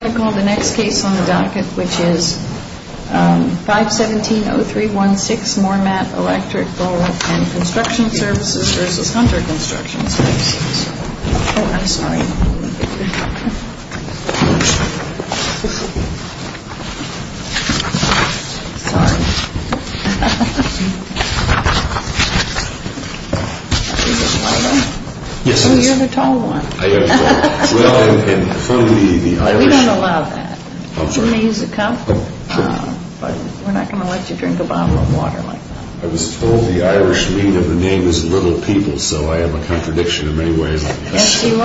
I call the next case on the docket, which is 517-0316 Mormat Electrical & Construction Serv. v. Hunter Construction Serv. Oh, I'm sorry. Sorry. You're the tall one. We don't allow that. You may use a cup, but we're not going to let you drink a bottle of water like that. I was told the Irish mean of the name is little people, so I have a contradiction in many ways. Yes, you are.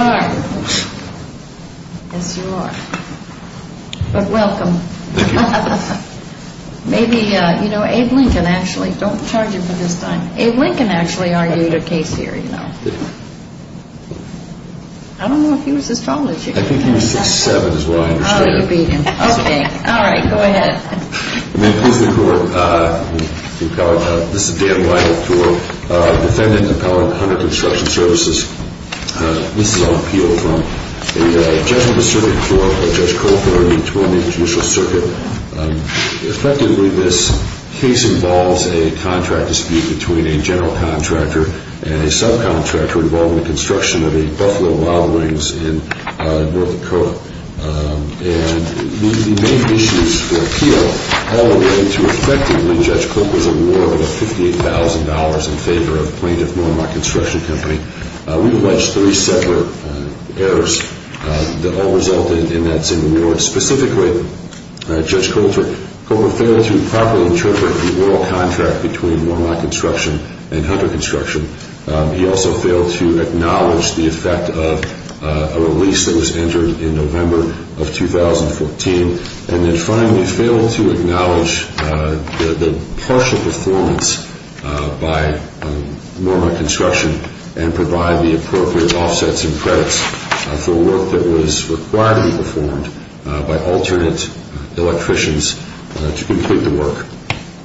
Yes, you are. But welcome. Thank you. Maybe, you know, Abe Lincoln actually, don't charge him for this time. Abe Lincoln actually argued a case here, you know. I don't know if he was as tall as you. I think he was 6'7", is what I understand. Oh, you beat him. Okay. All right. Go ahead. May it please the Court, this is Dan White for Defendant Appellant Hunter Construction Services. This is on appeal from the Judgment of the Circuit Court of Judge Cole v. Torney Judicial Circuit. Effectively, this case involves a contract dispute between a general contractor and a subcontractor involving the construction of a Buffalo model wings in North Dakota. And the main issues for appeal all relate to effectively Judge Cole was awarded a $58,000 in favor of plaintiff Norma Construction Company. We've alleged three separate errors that all result in that same award. Specifically, Judge Cole failed to properly interpret the oral contract between Norma Construction and Hunter Construction. He also failed to acknowledge the effect of a lease that was entered in November of 2014. And then finally, failed to acknowledge the partial performance by Norma Construction and provide the appropriate offsets and credits for work that was required to be performed by alternate electricians to complete the work.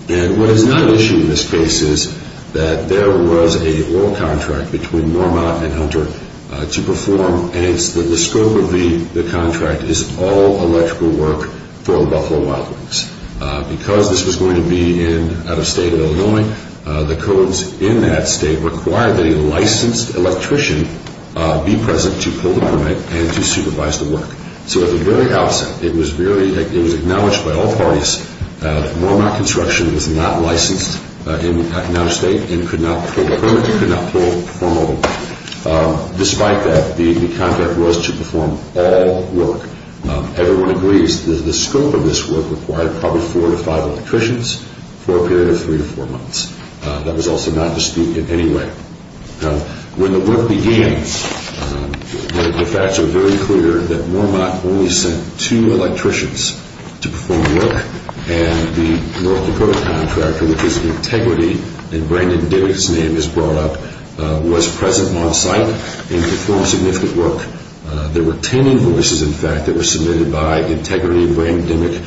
And what is not an issue in this case is that there was a oral contract between Norma and Hunter to perform and it's the scope of the contract is all electrical work for the Buffalo model wings. Because this was going to be in out-of-state of Illinois, the codes in that state require that a licensed electrician be present to pull the permit and to supervise the work. So at the very outset, it was acknowledged by all parties that Norma Construction was not licensed in out-of-state and could not pull the permit, could not perform all the work. Despite that, the contract was to perform all work. Everyone agrees that the scope of this work required probably four to five electricians for a period of three to four months. That was also not disputed in any way. When the work began, the facts were very clear that Norma only sent two electricians to perform the work and the oral contract, which is an integrity, and Brandon Dimmick's name is brought up, was present on site and performed significant work. There were ten invoices, in fact, that were submitted by integrity and Brandon Dimmick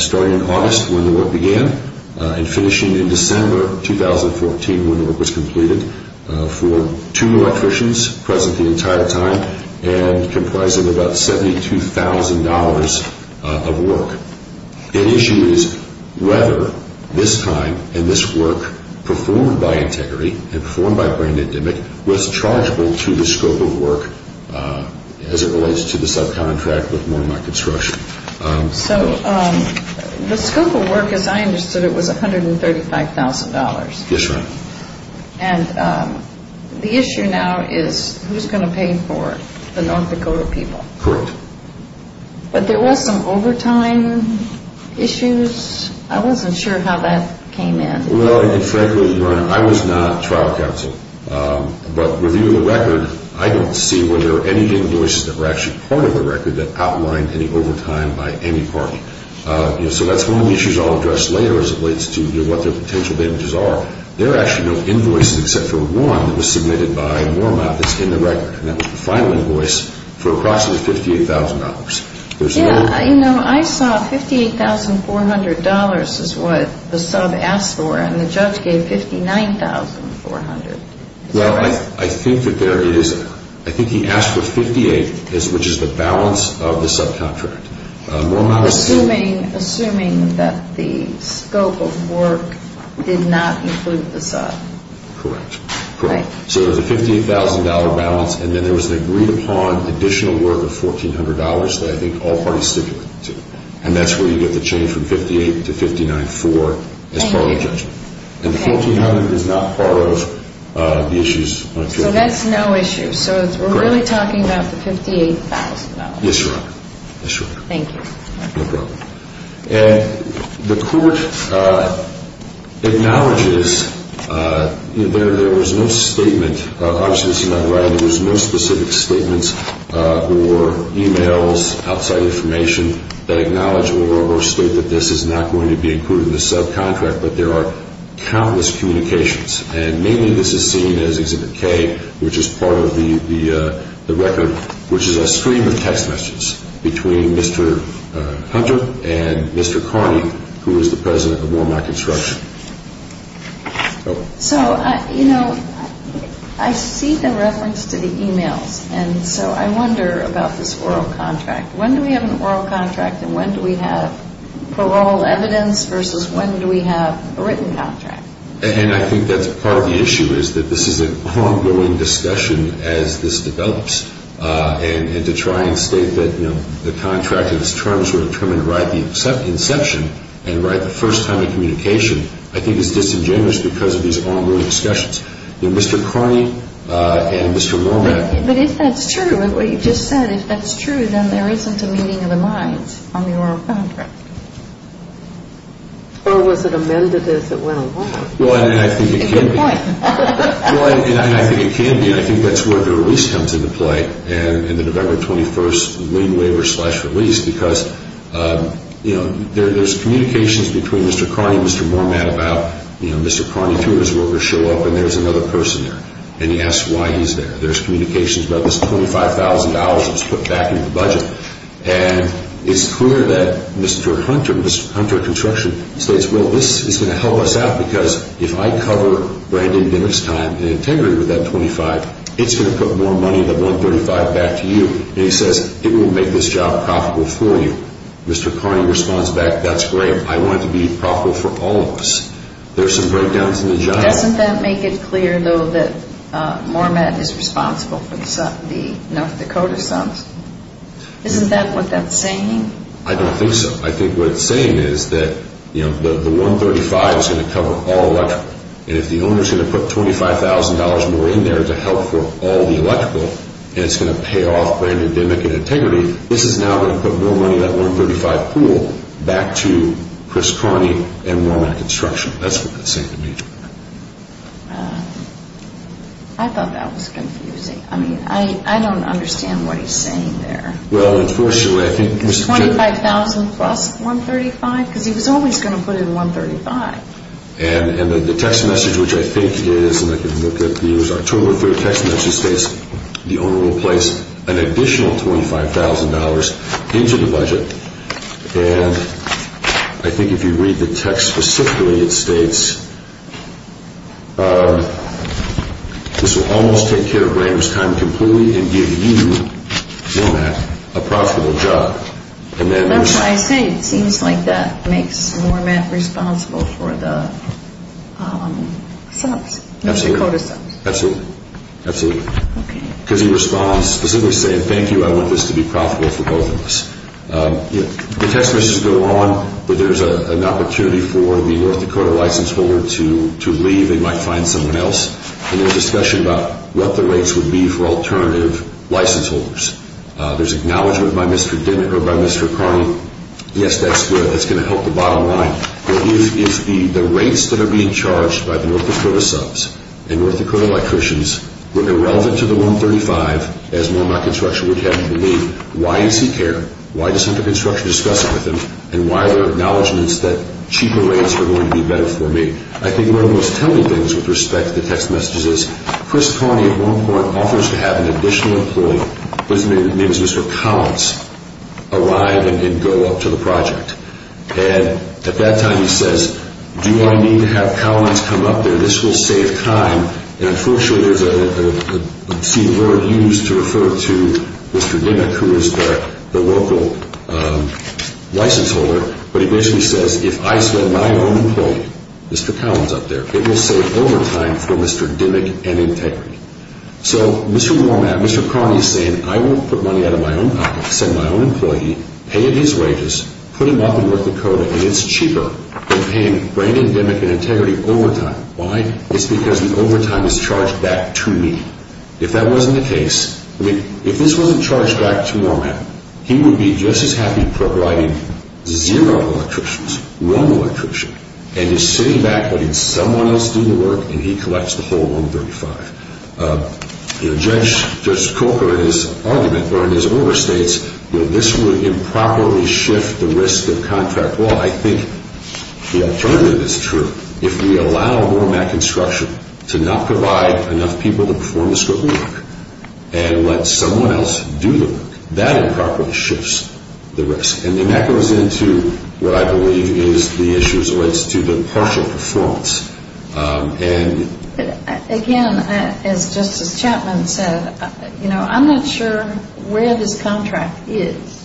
starting in August when the work began and finishing in December 2014 when the work was completed for two electricians present the entire time and comprising about $72,000 of work. The issue is whether this time and this work performed by integrity and performed by Brandon Dimmick was chargeable to the scope of work as it relates to the subcontract with Norma Construction. So the scope of work, as I understood it, was $135,000. Yes, ma'am. And the issue now is who's going to pay for it, the North Dakota people? Correct. But there was some overtime issues. I wasn't sure how that came in. Well, frankly, Your Honor, I was not trial counsel, but reviewing the record, I don't see whether any invoices that were actually part of the record that outlined any overtime by any party. So that's one of the issues I'll address later as it relates to what their potential damages are. There are actually no invoices except for one that was submitted by Norma that's in the record, and that was the final invoice for approximately $58,000. Yeah, you know, I saw $58,400 is what the sub asked for, and the judge gave $59,400. Well, I think that there is. I think he asked for $58,000, which is the balance of the subcontract. Assuming that the scope of work did not include the sub. Correct. So there's a $58,000 balance, and then there was an agreed-upon additional work of $1,400 that I think all parties stipulated. And that's where you get the change from $58,000 to $59,400 as part of the judgment. And the $1,400 is not part of the issues on appeal. So that's no issue. Correct. So we're really talking about the $58,000. Yes, Your Honor. Thank you. No problem. And the court acknowledges there was no statement. Obviously, this is not right. There was no specific statements or e-mails, outside information, that acknowledge or state that this is not going to be included in the subcontract, but there are countless communications. And mainly this is seen as Exhibit K, which is part of the record, which is a stream of text messages between Mr. Hunter and Mr. Carney, who is the president of Wormack Instruction. So, you know, I see the reference to the e-mails, and so I wonder about this oral contract. When do we have an oral contract, and when do we have parole evidence, versus when do we have a written contract? And I think that's part of the issue, is that this is an ongoing discussion as this develops. And to try and state that, you know, the contractor's terms were determined right at the inception and right the first time of communication, I think is disingenuous because of these ongoing discussions. You know, Mr. Carney and Mr. Wormack. But if that's true, what you just said, if that's true, then there isn't a meeting of the minds on the oral contract. Or was it amended as it went along? Well, and I think it can be. Well, and I think it can be. I think that's where the release comes into play in the November 21st lien waiver slash release because, you know, there's communications between Mr. Carney and Mr. Wormack about, you know, Mr. Carney, two of his workers show up, and there's another person there. And he asks why he's there. There's communications about this $25,000 that was put back into the budget. And it's clear that Mr. Hunter, Mr. Hunter Construction, states, well, this is going to help us out because if I cover Brandon Dimmock's time in integrity with that $25,000, it's going to put more money in the $135,000 back to you. And he says, it will make this job profitable for you. Mr. Carney responds back, that's great. I want it to be profitable for all of us. There are some breakdowns in the giant. Doesn't that make it clear, though, that Wormack is responsible for the North Dakota sums? Isn't that what that's saying? I don't think so. I think what it's saying is that, you know, the $135,000 is going to cover all electrical. And if the owner is going to put $25,000 more in there to help for all the electrical, and it's going to pay off Brandon Dimmock in integrity, this is now going to put more money in that $135,000 pool back to Chris Carney and Wormack Construction. That's what that's saying to me. I thought that was confusing. I mean, I don't understand what he's saying there. Well, unfortunately, I think Mr. Chairman. $25,000 plus $135,000? Because he was always going to put in $135,000. And the text message, which I think is, and I can look at the years, October 3rd text message states, the owner will place an additional $25,000 into the budget. And I think if you read the text specifically, it states, this will almost take care of Brandon's time completely and give you, Wormack, a profitable job. That's what I say. It seems like that makes Wormack responsible for the subs, the Dakota subs. Absolutely. Absolutely. Because he responds specifically saying, thank you, I want this to be profitable for both of us. The text messages go on, but there's an opportunity for the North Dakota license holder to leave. They might find someone else. And there's discussion about what the rates would be for alternative license holders. There's acknowledgment by Mr. Dinnick or by Mr. Carney. Yes, that's going to help the bottom line. But if the rates that are being charged by the North Dakota subs and North Dakota electricians were irrelevant to the $135,000, as Wormack Construction would have me believe, why does he care? Why doesn't the construction discuss it with him? And why are there acknowledgments that cheaper rates are going to be better for me? I think one of the most telling things with respect to the text messages is, Chris Carney at one point offers to have an additional employee. His name is Mr. Collins, arrive and go up to the project. And at that time he says, do I need to have Collins come up there? This will save time. And unfortunately there's a word used to refer to Mr. Dinnick, who is the local license holder. But he basically says, if I send my own employee, Mr. Collins up there, it will save overtime for Mr. Dinnick and Integrity. So Mr. Wormack, Mr. Carney is saying, I will put money out of my own pocket, send my own employee, pay his wages, put him up in North Dakota, and it's cheaper than paying Brandon, Dinnick, and Integrity overtime. Why? It's because the overtime is charged back to me. If that wasn't the case, I mean, if this wasn't charged back to Wormack, he would be just as happy providing zero electricians, one electrician, and is sitting back letting someone else do the work and he collects the whole 135. Judge Corker, in his argument, or in his order, states, this would improperly shift the risk of contract law. I think the alternative is true. If we allow Wormack construction to not provide enough people to perform the scope of work and let someone else do the work, that improperly shifts the risk. And that goes into what I believe is the issues with the partial performance. Again, as Justice Chapman said, you know, I'm not sure where this contract is.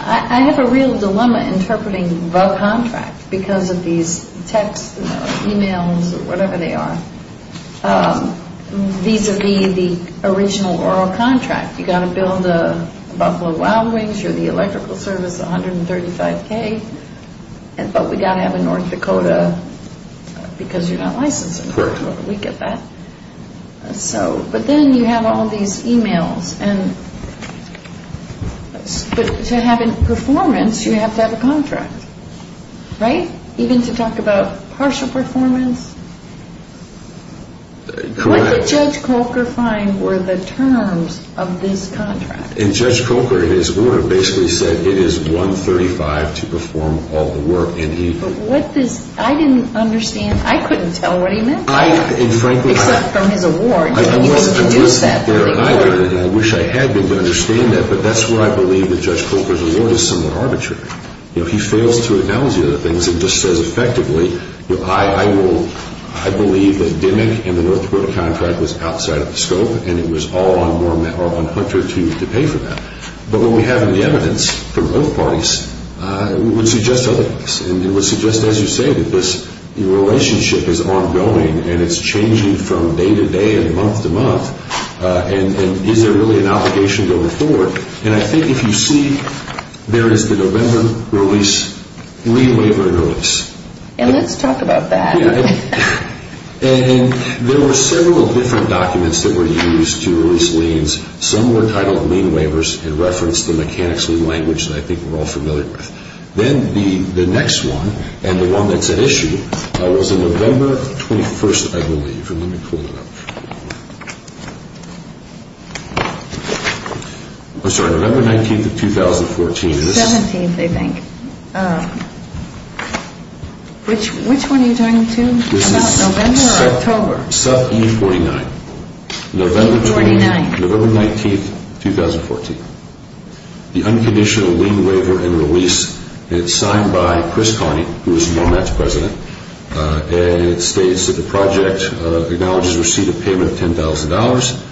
I have a real dilemma interpreting the contract because of these texts, emails, or whatever they are, vis-a-vis the original oral contract. You've got to build a Buffalo Wild Wings, you're the electrical service, 135K, but we've got to have a North Dakota because you're not licensed. We get that. But then you have all these emails. To have a performance, you have to have a contract, right? Even to talk about partial performance? Correct. What did Judge Corker find were the terms of this contract? Judge Corker, in his order, basically said it is 135 to perform all the work. I didn't understand. I couldn't tell what he meant. Except from his award, you can deduce that. I wish I had been to understand that, but that's where I believe that Judge Corker's award is somewhat arbitrary. You know, he fails to analyze the other things and just says effectively, I believe that Dimick and the North Dakota contract was outside of the scope and it was all on Hunter to pay for that. But what we have in the evidence from both parties would suggest other things. And it would suggest, as you say, that this relationship is ongoing and it's changing from day to day and month to month. And is there really an obligation going forward? And I think if you see, there is the November release, lien waiver and release. And let's talk about that. And there were several different documents that were used to release liens. Some were titled lien waivers in reference to the mechanics of the language that I think we're all familiar with. Then the next one, and the one that's at issue, was on November 21st, I believe. Let me pull it up. I'm sorry, November 19th of 2014. 17th, I think. Which one are you talking to, about November or October? This is sub E-49. E-49. November 19th, 2014. The Unconditional Lien Waiver and Release. And it's signed by Chris Connie, who is MoMAT's president. And it states that the project acknowledges receipt of payment of $10,000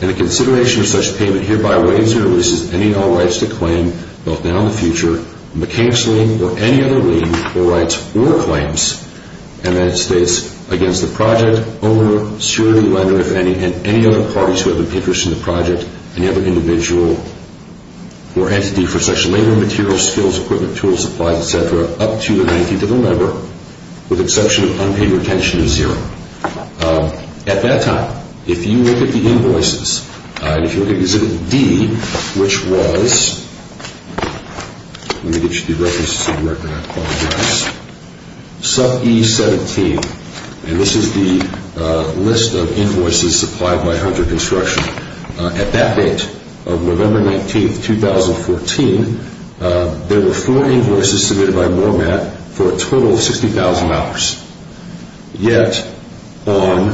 and a consideration of such payment hereby waives or releases any and all rights to claim, both now and in the future, mechanics lien or any other lien or rights or claims. And then it states, against the project owner, surrogate lender, if any, and any other parties who have an interest in the project, any other individual or entity for such labor, materials, skills, equipment, tools, supplies, et cetera, up to the 19th of November, with exception of unpaid retention of zero. At that time, if you look at the invoices, and if you look at Exhibit D, which was, let me get you the references of the record, I apologize, sub E-17. And this is the list of invoices supplied by Hunter Construction. At that date of November 19th, 2014, there were four invoices submitted by MoMAT for a total of $60,000. Yet on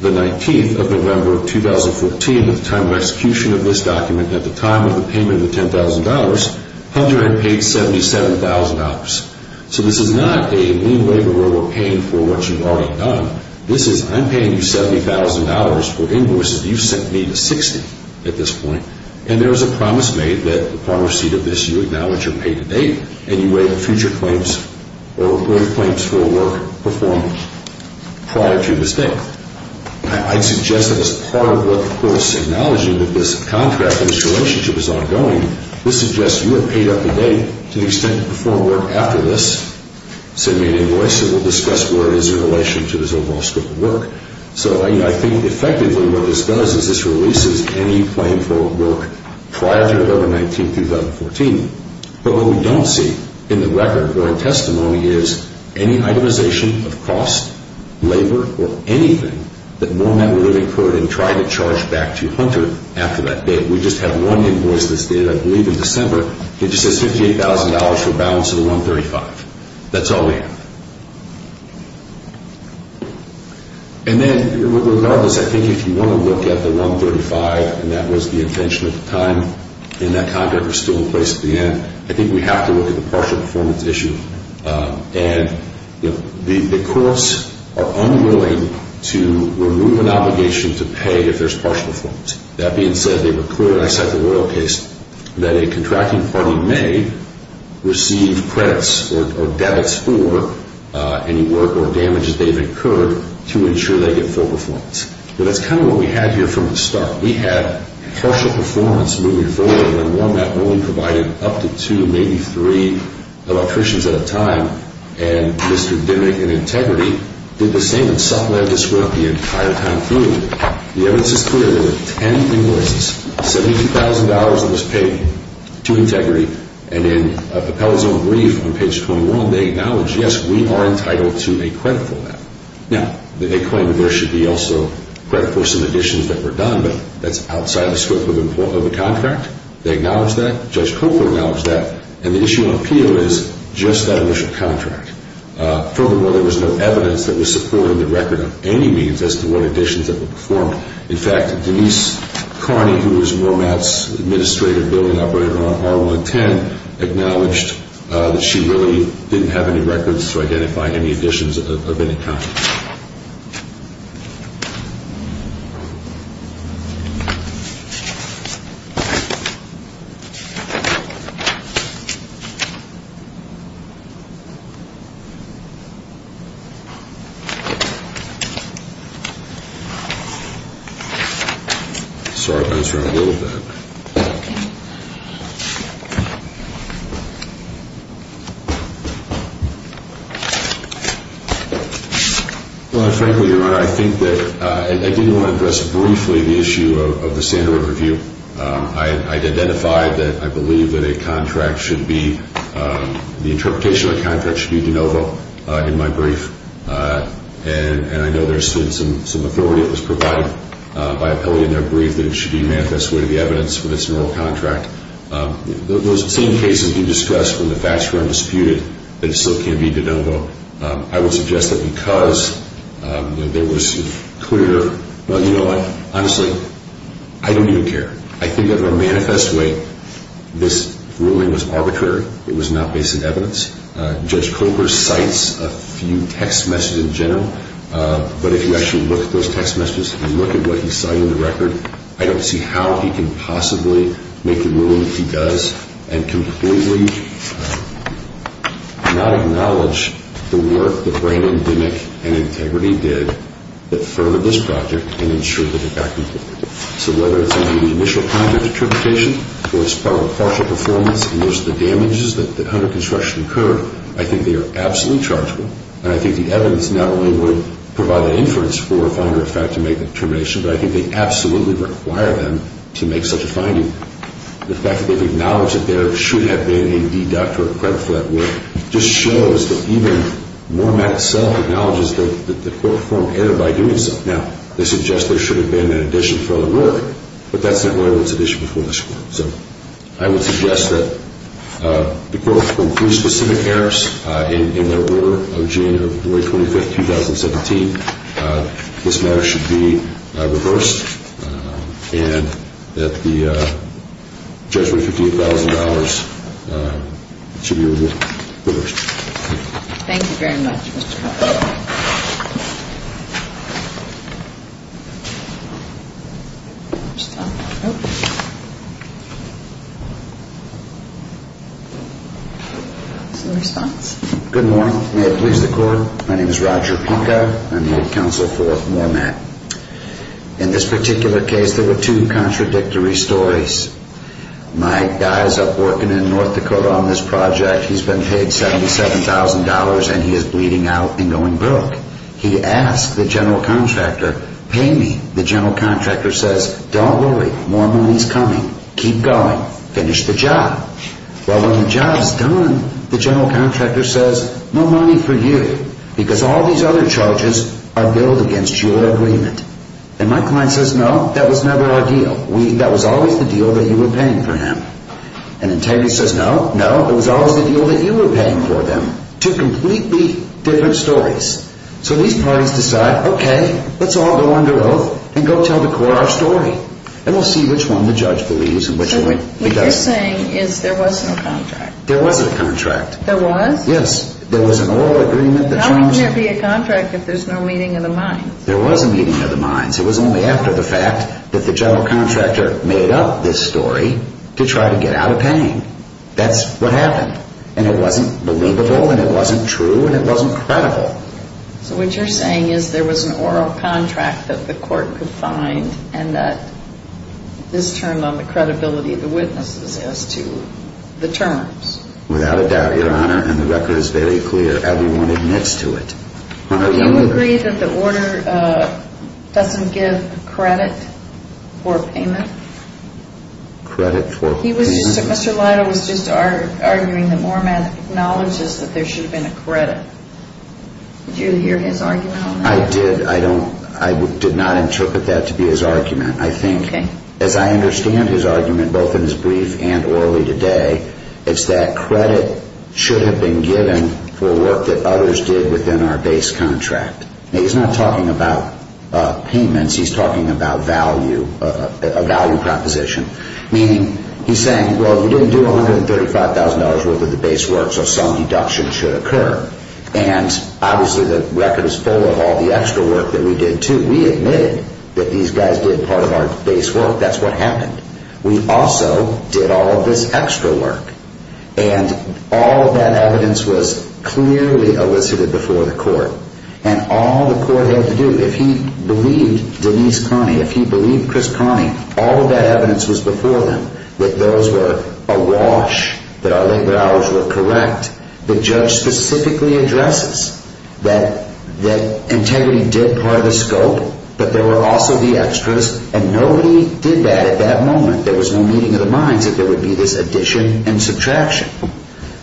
the 19th of November, 2014, at the time of execution of this document, at the time of the payment of the $10,000, Hunter had paid $77,000. So this is not a new laborer paying for what you've already done. This is, I'm paying you $70,000 for invoices you've sent me to 60 at this point. And there is a promise made that upon receipt of this, you acknowledge your pay-to-date and you wait for future claims or further claims for a work performed prior to this date. I'd suggest that as part of what, of course, acknowledging that this contract and this relationship is ongoing, this suggests you have paid up-to-date to the extent to perform work after this submitted invoice, and we'll discuss where it is in relation to this overall scope of work. So I think effectively what this does is this releases any claim for work prior to November 19th, 2014. But what we don't see in the record or in testimony is any itemization of cost, labor, or anything that MoMAT would have incurred in trying to charge back to Hunter after that date. We just have one invoice that's dated, I believe, in December. It just says $58,000 for a balance of the 135. That's all we have. And then, regardless, I think if you want to look at the 135, and that was the intention at the time and that contract was still in place at the end, I think we have to look at the partial performance issue. And the courts are unwilling to remove an obligation to pay if there's partial performance. That being said, they were clear, and I cite the Royal case, that a contracting party may receive credits or debits for any work or damages they've incurred to ensure they get full performance. But that's kind of what we had here from the start. We had partial performance moving forward when MoMAT only provided up to two, maybe three electricians at a time, and Mr. Dimmick and Integrity did the same and supplemented this work the entire time through. The evidence is clear. There were 10 invoices, $70,000 of which was paid to Integrity, and in an appellate zone brief on page 21, they acknowledge, yes, we are entitled to a credit for that. Now, they claim there should be also credit for some additions that were done, but that's outside the scope of the contract. They acknowledge that. Judge Cooper acknowledged that. And the issue on appeal is just that initial contract. Furthermore, there was no evidence that was supported in the record of any means as to what additions that were performed. In fact, Denise Carney, who was MoMAT's administrative building operator on R110, acknowledged that she really didn't have any records to identify any additions of any kind. I'm sorry if I was wrong a little bit. Well, frankly, Your Honor, I think that I do want to address briefly the issue of the standard review. I identified that I believe that a contract should be, the interpretation of a contract should be de novo in my brief, and I know there's been some authority that was provided by appellate in their brief that it should be a manifest way to the evidence for this new contract. Those same cases you discussed, when the facts were undisputed, that it still can be de novo, I would suggest that because there was clear, well, you know what, honestly, I don't even care. I think that in a manifest way, this ruling was arbitrary. It was not based on evidence. Judge Cooper cites a few text messages in general, but if you actually look at those text messages, if you look at what he's citing in the record, I don't see how he can possibly make the ruling that he does and completely not acknowledge the work that Brandon Dimmick and Integrity did that furthered this project and ensured that it got completed. So whether it's in the initial contract interpretation or it's part of a partial performance and there's the damages that under construction incurred, I think they are absolutely chargeable, and I think the evidence not only would provide an inference for a finder, in fact, to make the determination, but I think they absolutely require them to make such a finding. The fact that they've acknowledged that there should have been a deduct or a credit for that work just shows that even Moremat itself acknowledges that the court performed error by doing so. Now, they suggest there should have been an addition for the work, but that's not really what's at issue before this Court. So I would suggest that the Court conclude specific errors in their order of June 25, 2017. This matter should be reversed and that the judgment of $58,000 should be reversed. Thank you very much, Mr. Hoffman. Is there a response? Good morning. May it please the Court? My name is Roger Punka. I'm the counsel for Moremat. In this particular case, there were two contradictory stories. My guy is up working in North Dakota on this project. He's been paid $77,000 and he is bleeding out and going broke. He asked the general contractor, pay me. The general contractor says, don't worry, more money is coming, keep going, finish the job. Well, when the job is done, the general contractor says, no money for you, because all these other charges are billed against your agreement. And my client says, no, that was never our deal. That was always the deal that you were paying for him. And integrity says, no, no, it was always the deal that you were paying for them. Two completely different stories. So these parties decide, okay, let's all go under oath and go tell the court our story. And we'll see which one the judge believes and which one he doesn't. So what you're saying is there was no contract. There was a contract. There was? Yes. There was an oral agreement. How can there be a contract if there's no meeting of the minds? There was a meeting of the minds. It was only after the fact that the general contractor made up this story to try to get out of paying. That's what happened. And it wasn't believable and it wasn't true and it wasn't credible. So what you're saying is there was an oral contract that the court could find and that this turned on the credibility of the witnesses as to the terms. Without a doubt, Your Honor, and the record is very clear. Everyone admits to it. Do you agree that the order doesn't give credit for payment? Credit for payment? Mr. Lido was just arguing that Mormat acknowledges that there should have been a credit. Did you hear his argument on that? I did. I did not interpret that to be his argument. I think, as I understand his argument, both in his brief and orally today, it's that credit should have been given for work that others did within our base contract. He's not talking about payments. He's talking about value, a value proposition. Meaning, he's saying, well, you didn't do $135,000 worth of the base work, so some deduction should occur. And obviously the record is full of all the extra work that we did too. We admitted that these guys did part of our base work. That's what happened. We also did all of this extra work. And all of that evidence was clearly elicited before the court. And all the court had to do, if he believed Denise Carney, if he believed Chris Carney, all of that evidence was before them, that those were awash, that our labor hours were correct. The judge specifically addresses that integrity did part of the scope, but there were also the extras, and nobody did that at that moment. There was no meeting of the minds that there would be this addition and subtraction.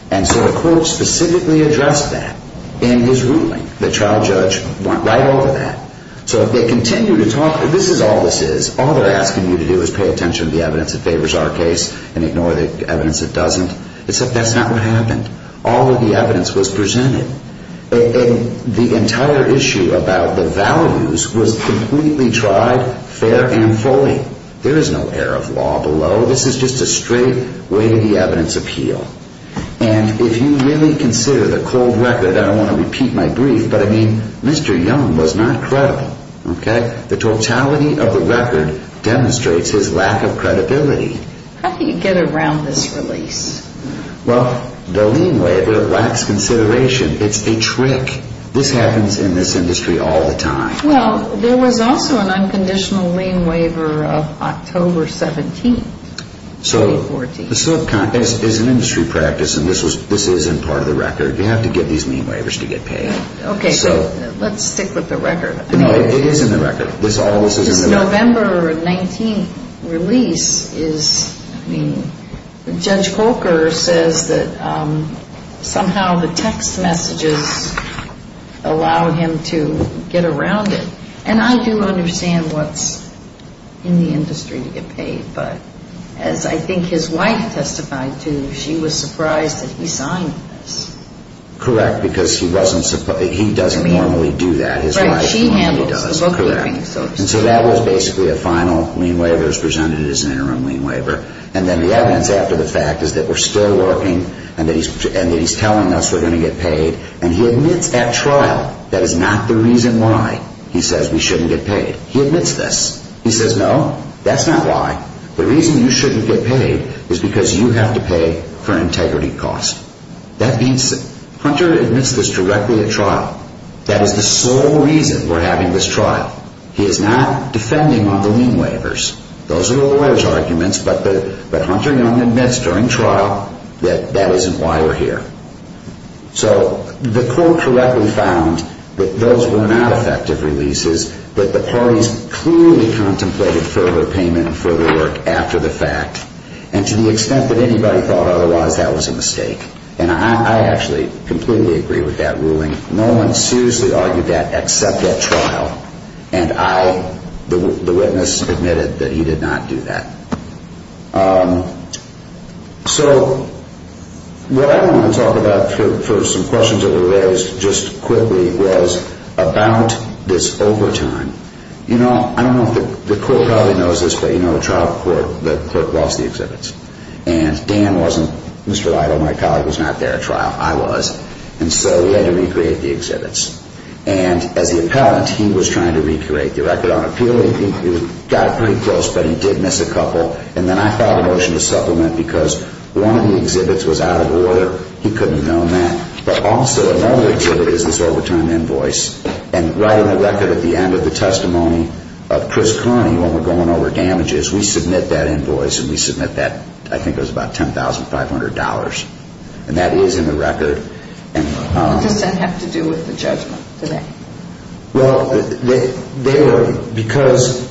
And so the court specifically addressed that in his ruling. The trial judge went right over that. So if they continue to talk, this is all this is. All they're asking you to do is pay attention to the evidence that favors our case and ignore the evidence that doesn't. Except that's not what happened. All of the evidence was presented. And the entire issue about the values was completely tried, fair and fully. There is no air of law below. This is just a straight way to the evidence appeal. And if you really consider the cold record, I don't want to repeat my brief, but, I mean, Mr. Young was not credible. The totality of the record demonstrates his lack of credibility. How do you get around this release? Well, the lien waiver lacks consideration. It's a trick. This happens in this industry all the time. Well, there was also an unconditional lien waiver of October 17, 2014. So the subcontract is an industry practice, and this is in part of the record. You have to get these lien waivers to get paid. Okay, so let's stick with the record. It is in the record. This November 19th release is, I mean, Judge Coker says that somehow the text messages allowed him to get around it. But as I think his wife testified to, she was surprised that he signed this. Correct, because he doesn't normally do that. His wife normally does. Right, she handles the bookkeeping, so to speak. And so that was basically a final lien waiver as presented as an interim lien waiver. And then the evidence after the fact is that we're still working and that he's telling us we're going to get paid. And he admits at trial that is not the reason why he says we shouldn't get paid. He admits this. He says, no, that's not why. The reason you shouldn't get paid is because you have to pay for integrity costs. That means Hunter admits this directly at trial. That is the sole reason we're having this trial. He is not defending on the lien waivers. Those are the lawyer's arguments, but Hunter Young admits during trial that that isn't why we're here. So the court correctly found that those were not effective releases, but the parties clearly contemplated further payment and further work after the fact. And to the extent that anybody thought otherwise, that was a mistake. And I actually completely agree with that ruling. No one seriously argued that except at trial. And I, the witness, admitted that he did not do that. So what I want to talk about first, and there were some questions that were raised just quickly, was about this overtime. You know, I don't know if the court probably knows this, but you know the trial court, the clerk lost the exhibits. And Dan wasn't, Mr. Lytle, my colleague, was not there at trial. I was. And so we had to recreate the exhibits. And as the appellant, he was trying to recreate the record on appeal. He got pretty close, but he did miss a couple. He couldn't have known that. But also another exhibit is this overtime invoice. And right on the record at the end of the testimony of Chris Carney, when we're going over damages, we submit that invoice and we submit that, I think it was about $10,500. And that is in the record. What does that have to do with the judgment today? Well, they were because,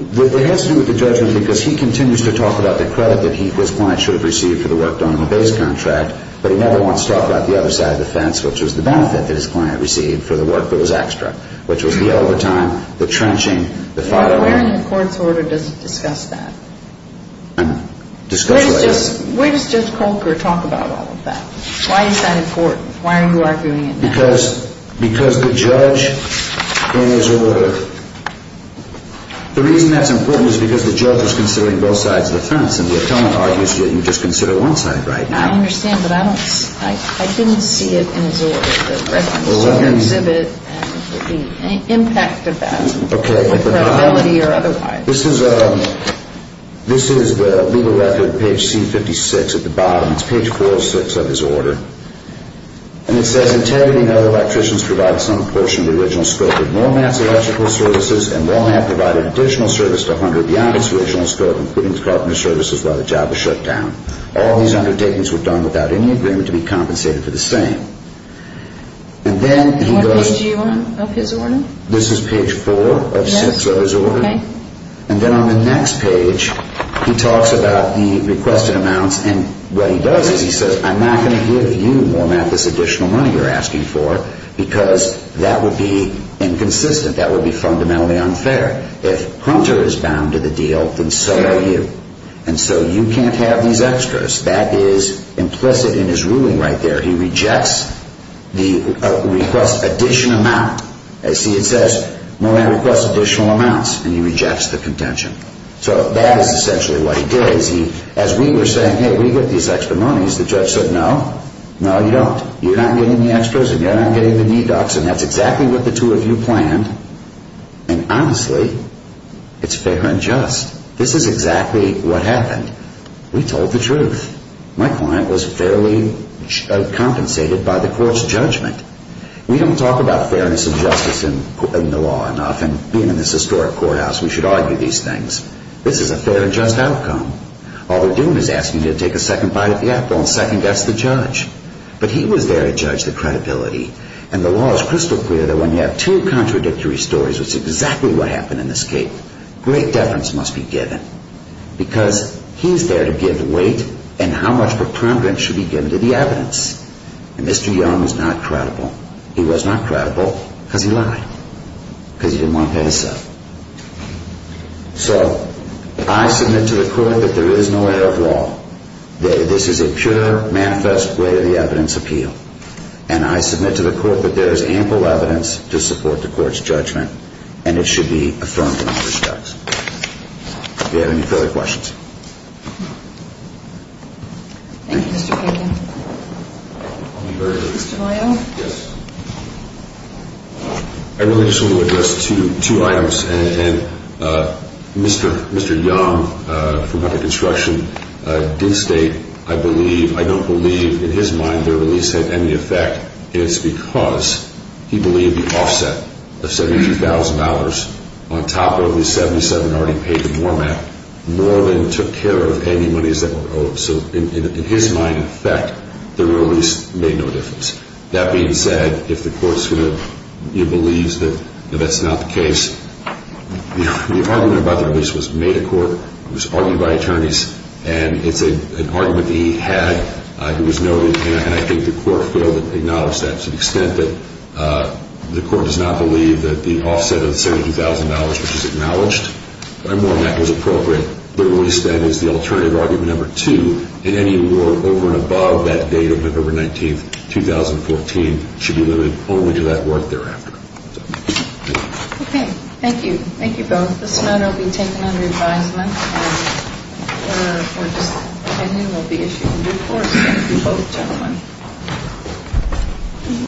it has to do with the judgment because he continues to talk about the credit that his client should have received for the work done on the base contract. But he never wants to talk about the other side of the fence, which was the benefit that his client received for the work that was extra, which was the overtime, the trenching, the following. Where in the court's order does it discuss that? Discuss what? Where does Judge Colker talk about all of that? Why is that important? Why are you arguing it now? Because the judge is a lawyer. The reason that's important is because the judge is considering both sides of the fence. And the appellant argues that you just consider one side right now. I understand, but I didn't see it in his order, the records. Did you exhibit any impact of that with credibility or otherwise? This is the legal record, page C56 at the bottom. It's page 406 of his order. And it says integrity and other electricians provided some portion of the original scope of Wal-Mart's electrical services, and Wal-Mart provided additional service to 100 beyond its original scope, including the carpenter services while the job was shut down. All these undertakings were done without any agreement to be compensated for the same. And then he goes to you on his order? This is page four of six of his order. And then on the next page, he talks about the requested amounts. And what he does is he says, I'm not going to give you, Wal-Mart, this additional money you're asking for because that would be inconsistent. That would be fundamentally unfair. If Hunter is bound to the deal, then so are you. And so you can't have these extras. That is implicit in his ruling right there. He rejects the request addition amount. See, it says, Wal-Mart requests additional amounts. And he rejects the contention. So that is essentially what he did. As we were saying, hey, we get these extra monies, the judge said, no, no, you don't. You're not getting the extras and you're not getting the deducts. And that's exactly what the two of you planned. And honestly, it's fair and just. This is exactly what happened. We told the truth. My client was fairly compensated by the court's judgment. We don't talk about fairness and justice in the law enough. And being in this historic courthouse, we should argue these things. This is a fair and just outcome. All they're doing is asking you to take a second bite at the apple and second guess the judge. But he was there to judge the credibility. And the law is crystal clear that when you have two contradictory stories, which is exactly what happened in this case, great deference must be given. Because he's there to give the weight and how much preponderance should be given to the evidence. And Mr. Young was not credible. He was not credible because he lied. Because he didn't want that to stop. So I submit to the court that there is no error of law. This is a pure manifest way of the evidence appeal. And I submit to the court that there is ample evidence to support the court's judgment. And it should be affirmed in all respects. If you have any further questions. Thank you, Mr. Pagan. Mr. Loyola? Yes. I really just want to address two items. And Mr. Young from Hunter Construction did state, I don't believe in his mind their release had any effect. It's because he believed the offset of $72,000 on top of the $77,000 already paid to Moorman, Moorman took care of any monies that were owed. So in his mind, in effect, their release made no difference. That being said, if the court believes that that's not the case, the argument about the release was made at court. It was argued by attorneys. And it's an argument that he had. It was noted. And I think the court failed to acknowledge that to the extent that the court does not believe that the offset of $72,000, which was acknowledged by Moorman, that was appropriate. So the release then is the alternative argument number two. And any award over and above that date of November 19th, 2014, should be limited only to that work thereafter. Okay. Thank you. Thank you both. This matter will be taken under advisement. And we'll just continue. We'll be issuing reports. Thank you both gentlemen.